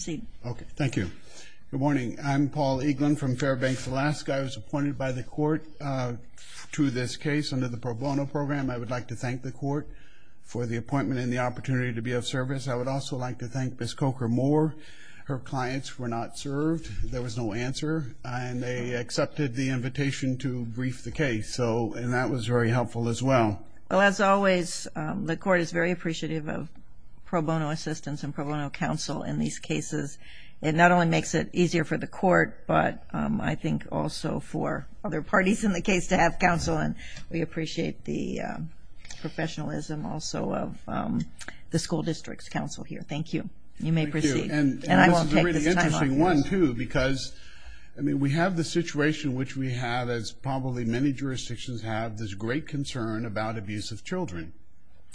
Okay, thank you. Good morning. I'm Paul Eaglin from Fairbanks, Alaska. I was appointed by the court to this case under the pro bono program. I would like to thank the court for the appointment and the opportunity to be of service. I would also like to thank Ms. Coker-Moore. Her clients were not served. There was no answer and they accepted the invitation to brief the case. So, and that was very helpful as well. Well, as always, the court is very appreciative of pro bono assistance and pro bono counsel in these cases. It not only makes it easier for the court, but I think also for other parties in the case to have counsel. And we appreciate the professionalism also of the school district's counsel here. Thank you. You may proceed. And this is a really interesting one, too, because, I mean, we have the situation which we have, as probably many jurisdictions have, this great concern about abuse of children.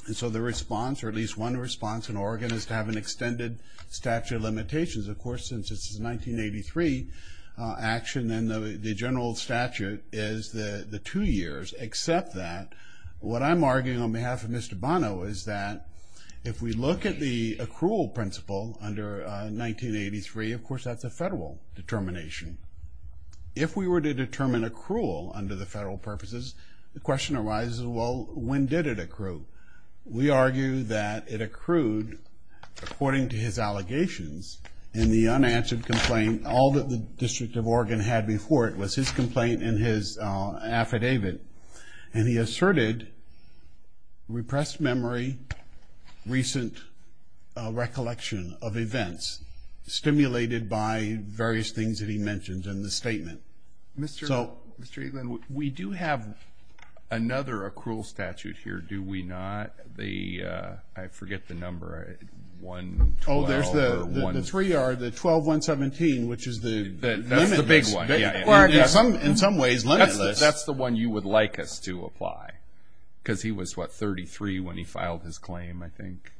And so the response, or at least one response in Oregon, is to have an extended statute of limitations. Of course, since this is a 1983 action and the general statute is the two years, except that what I'm arguing on behalf of Mr. Bonneau is that if we look at the accrual principle under 1983, of course, that's a federal determination. If we were to determine accrual under the federal purposes, the question arises, well, when did it accrue? We argue that it accrued according to his allegations in the unanswered complaint. All that the District of Oregon had before it was his complaint in his affidavit. And he asserted repressed memory, recent recollection of events. Stimulated by various things that he mentions in the statement. Mr. Eaglin, we do have another accrual statute here, do we not? I forget the number. Oh, there's the 3R, the 12-117, which is the limit. That's the big one. In some ways, limitless. That's the one you would like us to apply. Because he was, what, 33 when he filed his claim, I think.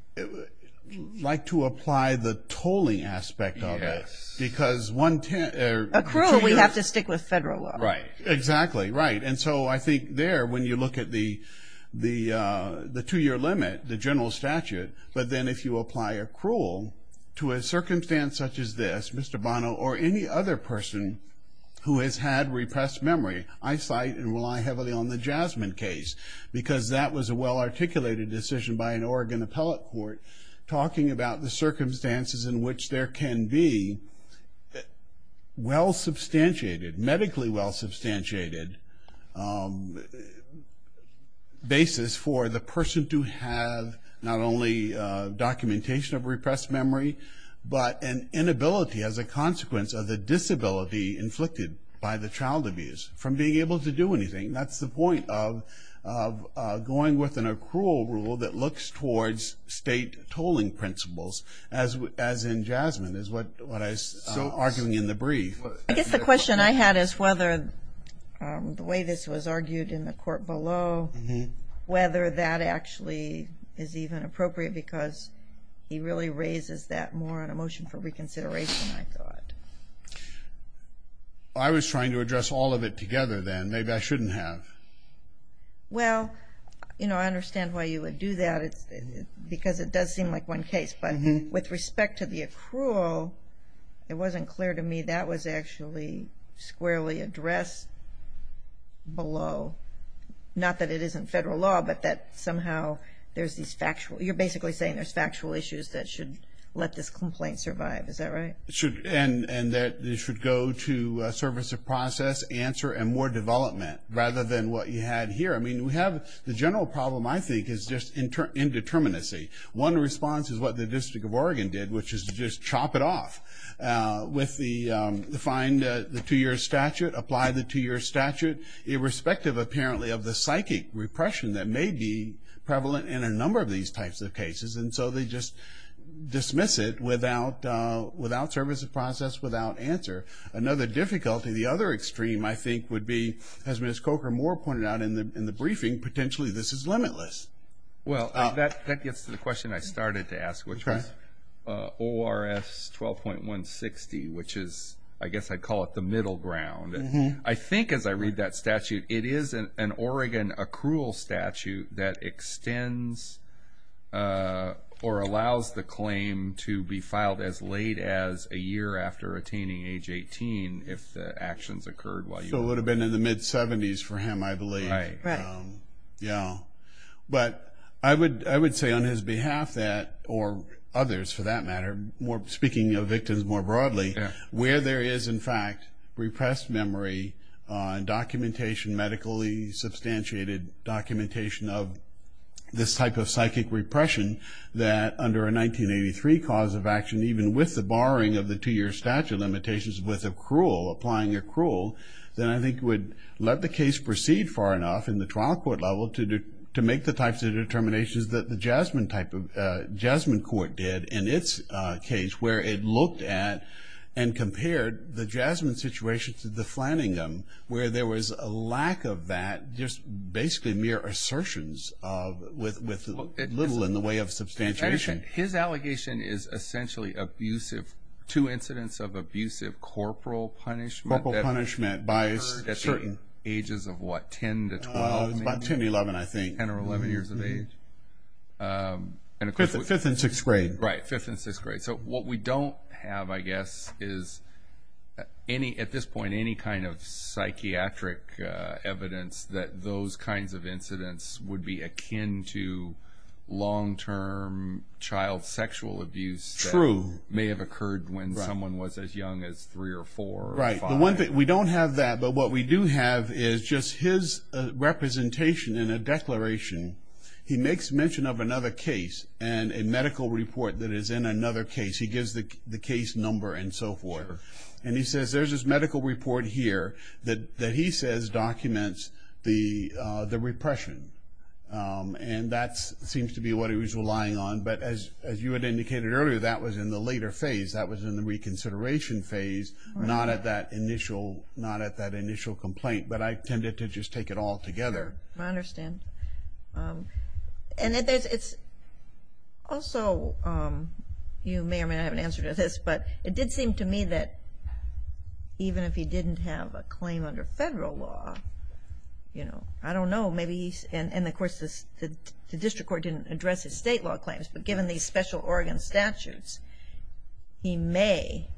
Like to apply the tolling aspect of it. Yes. Because one... Accrual, we have to stick with federal law. Right. Exactly. Right. And so I think there, when you look at the two-year limit, the general statute, but then if you apply accrual to a circumstance such as this, Mr. Bonneau, or any other person who has had repressed memory, I cite and rely heavily on the Jasmine case. Because that was a well-articulated decision by an Oregon appellate court talking about the circumstances in which there can be well-substantiated, medically well-substantiated basis for the person to have not only documentation of repressed memory, but an inability as a consequence of the disability inflicted by the child abuse from being able to do anything. That's the point of going with an accrual rule that looks towards state tolling principles, as in Jasmine, is what I was arguing in the brief. I guess the question I had is whether the way this was argued in the court below, whether that actually is even appropriate, because he really raises that more on a motion for reconsideration, I thought. I was trying to address all of it together then. Maybe I shouldn't have. Well, you know, I understand why you would do that. Because it does seem like one case. But with respect to the accrual, it wasn't clear to me that was actually squarely addressed below. Not that it isn't federal law, but that somehow there's these factual, you're basically saying there's factual issues that should let this complaint survive. Is that right? And that it should go to a service of process, answer, and more development, rather than what you had here. I mean, we have the general problem, I think, is just indeterminacy. One response is what the District of Oregon did, which is to just chop it off with the find the two-year statute, apply the two-year statute, irrespective, apparently, of the psychic repression that may be prevalent in a number of these types of cases. And so they just dismiss it without service of process, without answer. Another difficulty, the other extreme, I think, would be, as Ms. Coker-Moore pointed out in the briefing, potentially this is limitless. Well, that gets to the question I started to ask, which was ORS 12.160, which is, I guess I'd call it the middle ground. I think as I read that statute, it is an Oregon accrual statute that extends or allows the claim to be filed as late as a year after attaining age 18, if the actions occurred while you were there. So it would have been in the mid-70s for him, I believe. Right. Yeah. But I would say on his behalf that, or others for that matter, speaking of victims more broadly, where there is, in fact, repressed memory and documentation, medically substantiated documentation of this type of psychic repression, that under a 1983 cause of action, even with the borrowing of the two-year statute limitations with accrual, applying accrual, that I think would let the case proceed far enough in the trial court level to make the types of determinations that the Jasmine Court did in its case, where it looked at and compared the Jasmine situation to the Flanningham, where there was a lack of that, just basically mere assertions with little in the way of substantiation. His allegation is essentially abusive, two incidents of abusive corporal punishment that occurred at the ages of, what, 10 to 12, maybe? About 10, 11, I think. 10 or 11 years of age. Fifth and sixth grade. Right, fifth and sixth grade. So what we don't have, I guess, is at this point any kind of psychiatric evidence that those kinds of incidents would be akin to long-term child sexual abuse that may have occurred when someone was as young as three or four or five. Right. We don't have that. But what we do have is just his representation in a declaration. He makes mention of another case and a medical report that is in another case. He gives the case number and so forth. And he says there's this medical report here that he says documents the repression, and that seems to be what he was relying on. But as you had indicated earlier, that was in the later phase. That was in the reconsideration phase, not at that initial complaint. But I tended to just take it all together. I understand. And it's also, you may or may not have an answer to this, but it did seem to me that even if he didn't have a claim under federal law, you know, I don't know. And, of course, the district court didn't address his state law claims. But given these special Oregon statutes, he may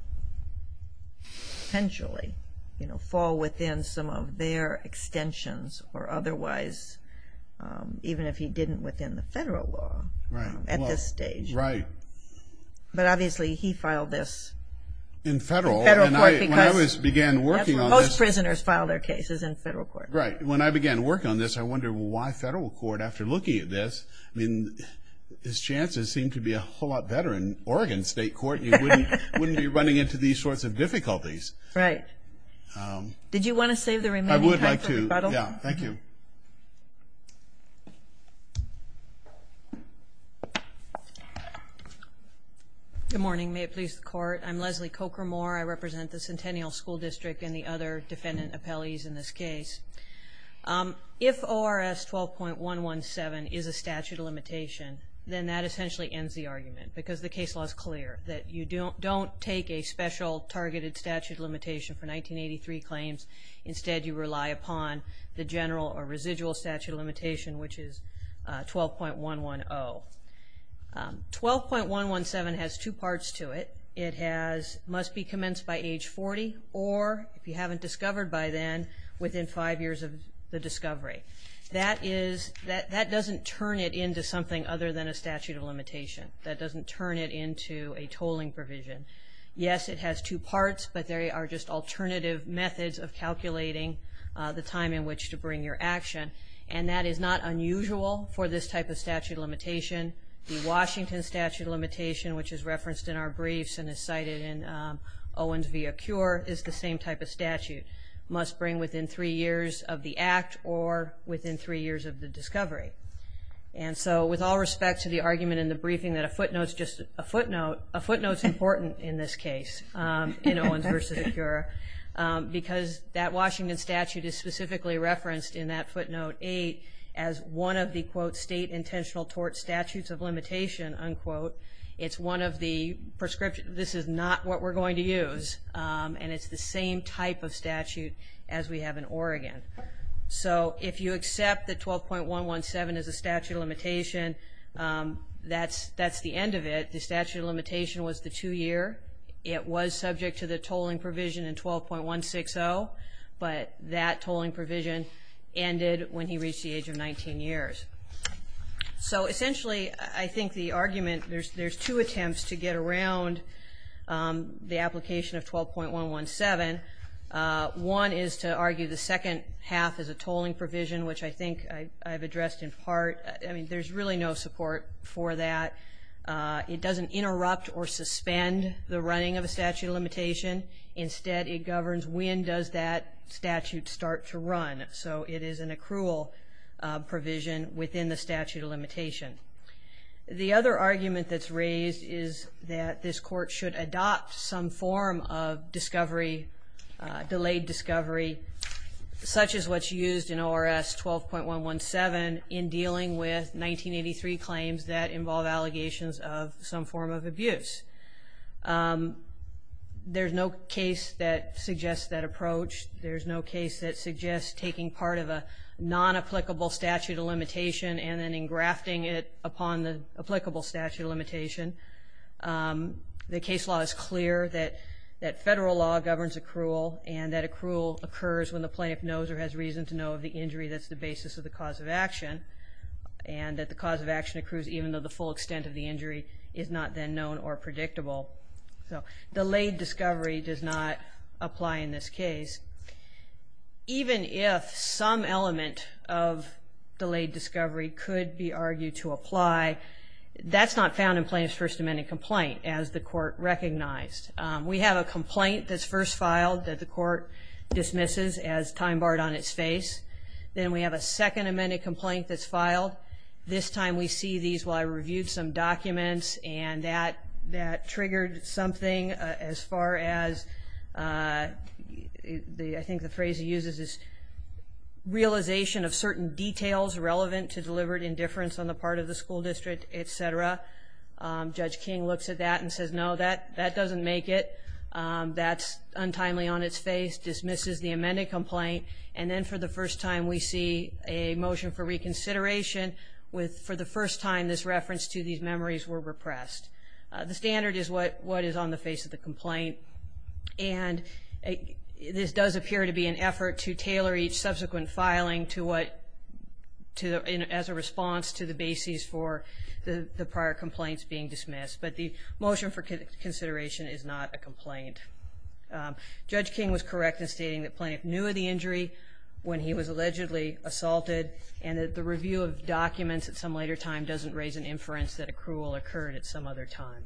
potentially fall within some of their extensions or otherwise, even if he didn't within the federal law at this stage. Right. But obviously he filed this. In federal. In federal court. Because most prisoners file their cases in federal court. Right. When I began working on this, I wondered why federal court, after looking at this, I mean, his chances seem to be a whole lot better in Oregon state court. You wouldn't be running into these sorts of difficulties. Right. Did you want to save the remaining time for rebuttal? I would like to. Yeah. Thank you. Good morning. May it please the court. I'm Leslie Coker-Moore. I represent the Centennial School District and the other defendant appellees in this case. If ORS 12.117 is a statute of limitation, then that essentially ends the argument. Because the case law is clear that you don't take a special targeted statute of limitation for 1983 claims. Instead, you rely upon the general or residual statute of limitation, which is 12.110. 12.117 has two parts to it. It must be commenced by age 40 or, if you haven't discovered by then, within five years of the discovery. That doesn't turn it into something other than a statute of limitation. That doesn't turn it into a tolling provision. Yes, it has two parts, but there are just alternative methods of calculating the time in which to bring your action. And that is not unusual for this type of statute of limitation. The Washington statute of limitation, which is referenced in our briefs and is cited in Owens v. Acure, is the same type of statute. It must bring within three years of the act or within three years of the discovery. And so with all respect to the argument in the briefing that a footnote is just a footnote, a footnote is important in this case in Owens v. Acure because that Washington statute is specifically referenced in that footnote 8 as one of the quote, state intentional tort statutes of limitation, unquote. It's one of the prescriptions. This is not what we're going to use, and it's the same type of statute as we have in Oregon. So if you accept that 12.117 is a statute of limitation, that's the end of it. The statute of limitation was the two-year. It was subject to the tolling provision in 12.160, but that tolling provision ended when he reached the age of 19 years. So essentially, I think the argument, there's two attempts to get around the application of 12.117. One is to argue the second half is a tolling provision, which I think I've addressed in part. I mean, there's really no support for that. It doesn't interrupt or suspend the running of a statute of limitation. Instead, it governs when does that statute start to run. So it is an accrual provision within the statute of limitation. The other argument that's raised is that this court should adopt some form of discovery, delayed discovery, such as what's used in ORS 12.117 in dealing with 1983 claims that involve allegations of some form of abuse. There's no case that suggests that approach. There's no case that suggests taking part of a non-applicable statute of limitation and then engrafting it upon the applicable statute of limitation. The case law is clear that federal law governs accrual, and that accrual occurs when the plaintiff knows or has reason to know of the injury that's the basis of the cause of action, and that the cause of action accrues even though the full extent of the injury is not then known or predictable. So delayed discovery does not apply in this case. Even if some element of delayed discovery could be argued to apply, that's not found in plaintiff's First Amendment complaint, as the court recognized. We have a complaint that's first filed that the court dismisses as time barred on its face. Then we have a second amended complaint that's filed. This time we see these while I reviewed some documents, and that triggered something as far as I think the phrase he uses is realization of certain details relevant to deliberate indifference on the part of the school district, et cetera. Judge King looks at that and says, no, that doesn't make it. That's untimely on its face, dismisses the amended complaint, and then for the first time we see a motion for reconsideration with for the first time this reference to these memories were repressed. The standard is what is on the face of the complaint, and this does appear to be an effort to tailor each subsequent filing as a response to the basis for the prior complaints being dismissed. But the motion for consideration is not a complaint. Judge King was correct in stating that Plaintiff knew of the injury when he was allegedly assaulted, and that the review of documents at some later time doesn't raise an inference that accrual occurred at some other time.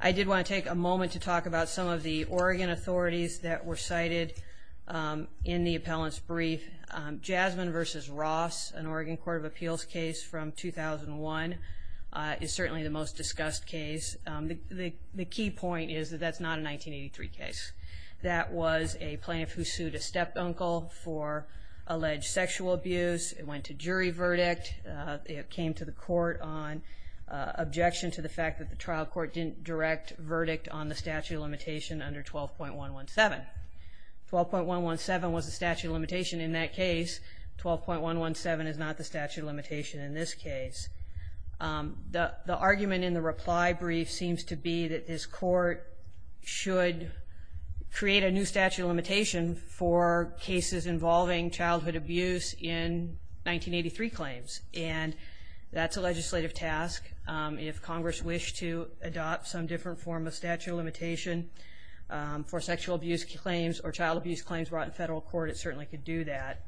I did want to take a moment to talk about some of the Oregon authorities that were cited in the appellant's brief. Jasmine v. Ross, an Oregon Court of Appeals case from 2001, is certainly the most discussed case. The key point is that that's not a 1983 case. That was a plaintiff who sued a step-uncle for alleged sexual abuse. It went to jury verdict. It came to the court on objection to the fact that the trial court didn't direct verdict on the statute of limitation under 12.117. 12.117 was the statute of limitation in that case. 12.117 is not the statute of limitation in this case. The argument in the reply brief seems to be that this court should create a new statute of limitation for cases involving childhood abuse in 1983 claims. And that's a legislative task. If Congress wished to adopt some different form of statute of limitation for sexual abuse claims or child abuse claims brought in federal court, it certainly could do that.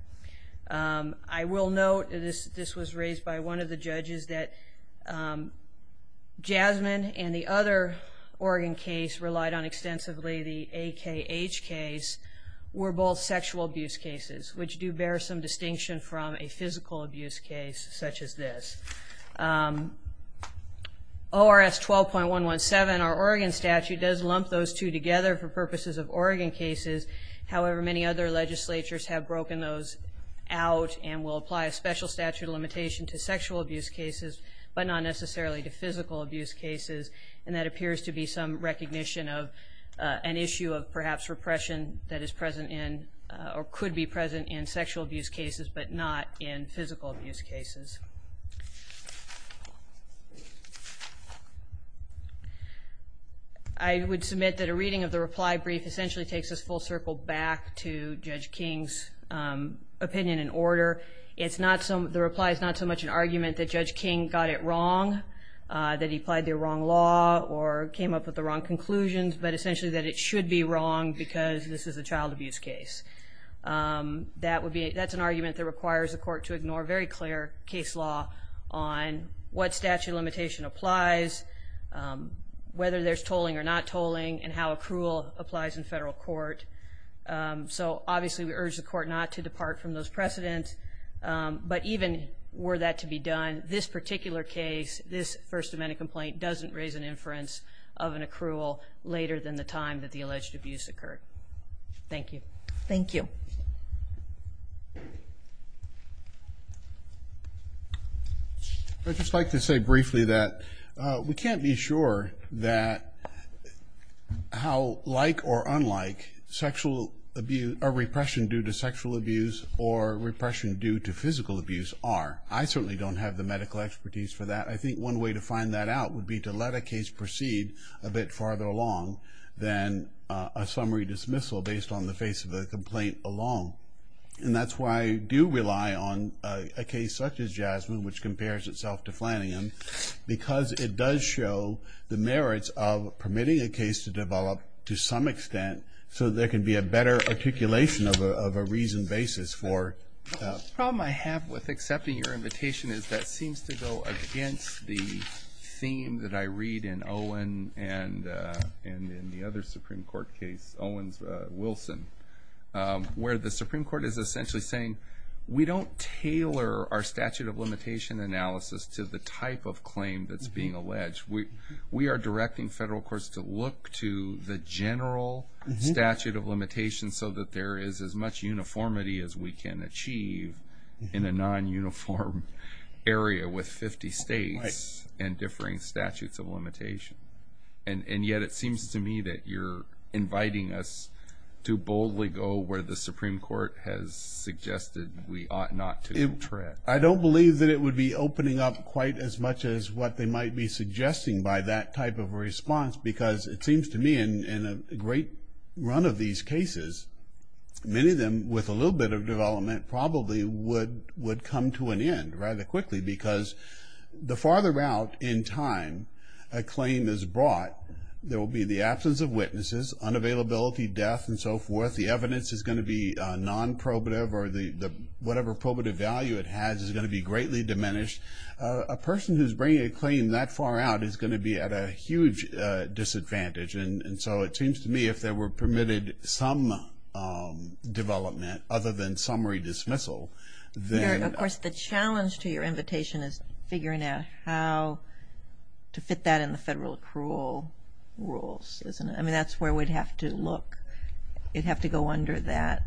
I will note that this was raised by one of the judges that Jasmine and the other Oregon case relied on extensively. The AKH case were both sexual abuse cases, which do bear some distinction from a physical abuse case such as this. ORS 12.117, our Oregon statute, does lump those two together for purposes of Oregon cases. However, many other legislatures have broken those out and will apply a special statute of limitation to sexual abuse cases but not necessarily to physical abuse cases. And that appears to be some recognition of an issue of perhaps repression that is present in or could be present in sexual abuse cases but not in physical abuse cases. I would submit that a reading of the reply brief essentially takes us full circle back to Judge King's opinion and order. The reply is not so much an argument that Judge King got it wrong, that he applied the wrong law or came up with the wrong conclusions, but essentially that it should be wrong because this is a child abuse case. That's an argument that requires the court to ignore very clear case law on what statute of limitation applies, whether there's tolling or not tolling, and how accrual applies in federal court. So obviously we urge the court not to depart from those precedents. But even were that to be done, this particular case, this First Amendment complaint, doesn't raise an inference of an accrual later than the time that the alleged abuse occurred. Thank you. Thank you. I'd just like to say briefly that we can't be sure that how like or unlike sexual abuse or repression due to sexual abuse or repression due to physical abuse are. I certainly don't have the medical expertise for that. I think one way to find that out would be to let a case proceed a bit farther along than a summary dismissal based on the face of the complaint alone. And that's why I do rely on a case such as Jasmine, which compares itself to Flanagan, because it does show the merits of permitting a case to develop to some extent. So there can be a better articulation of a reasoned basis for. The problem I have with accepting your invitation is that seems to go against the theme that I read in Owen and in the other Supreme Court case, Owen's Wilson, where the Supreme Court is essentially saying we don't tailor our statute of limitation analysis to the type of claim that's being alleged. We are directing federal courts to look to the general statute of limitation so that there is as much uniformity as we can achieve in a non-uniform area with 50 states and differing statutes of limitation. And yet it seems to me that you're inviting us to boldly go where the Supreme Court has suggested we ought not to tread. I don't believe that it would be opening up quite as much as what they might be suggesting by that type of response, because it seems to me in a great run of these cases, many of them with a little bit of development probably would come to an end rather quickly, because the farther out in time a claim is brought, there will be the absence of witnesses, unavailability, death, and so forth. The evidence is going to be non-probative or whatever probative value it has is going to be greatly diminished. A person who's bringing a claim that far out is going to be at a huge disadvantage. And so it seems to me if there were permitted some development other than summary dismissal, then... Of course, the challenge to your invitation is figuring out how to fit that in the federal accrual rules, isn't it? I mean, that's where we'd have to look. It'd have to go under that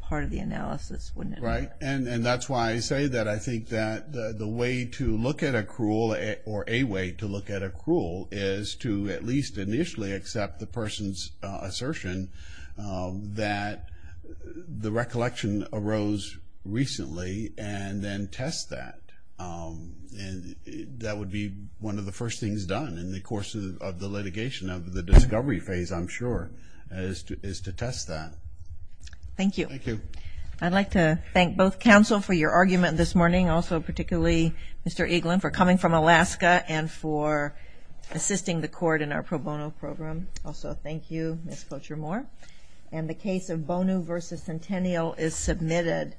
part of the analysis, wouldn't it? Right, and that's why I say that I think that the way to look at accrual or a way to look at accrual is to at least initially accept the person's assertion that the recollection arose recently and then test that. And that would be one of the first things done in the course of the litigation of the discovery phase, I'm sure, is to test that. Thank you. Thank you. I'd like to thank both counsel for your argument this morning. Also, particularly Mr. Eaglin for coming from Alaska and for assisting the court in our pro bono program. Also, thank you, Ms. Cocher-Moore. And the case of Bono v. Centennial is submitted.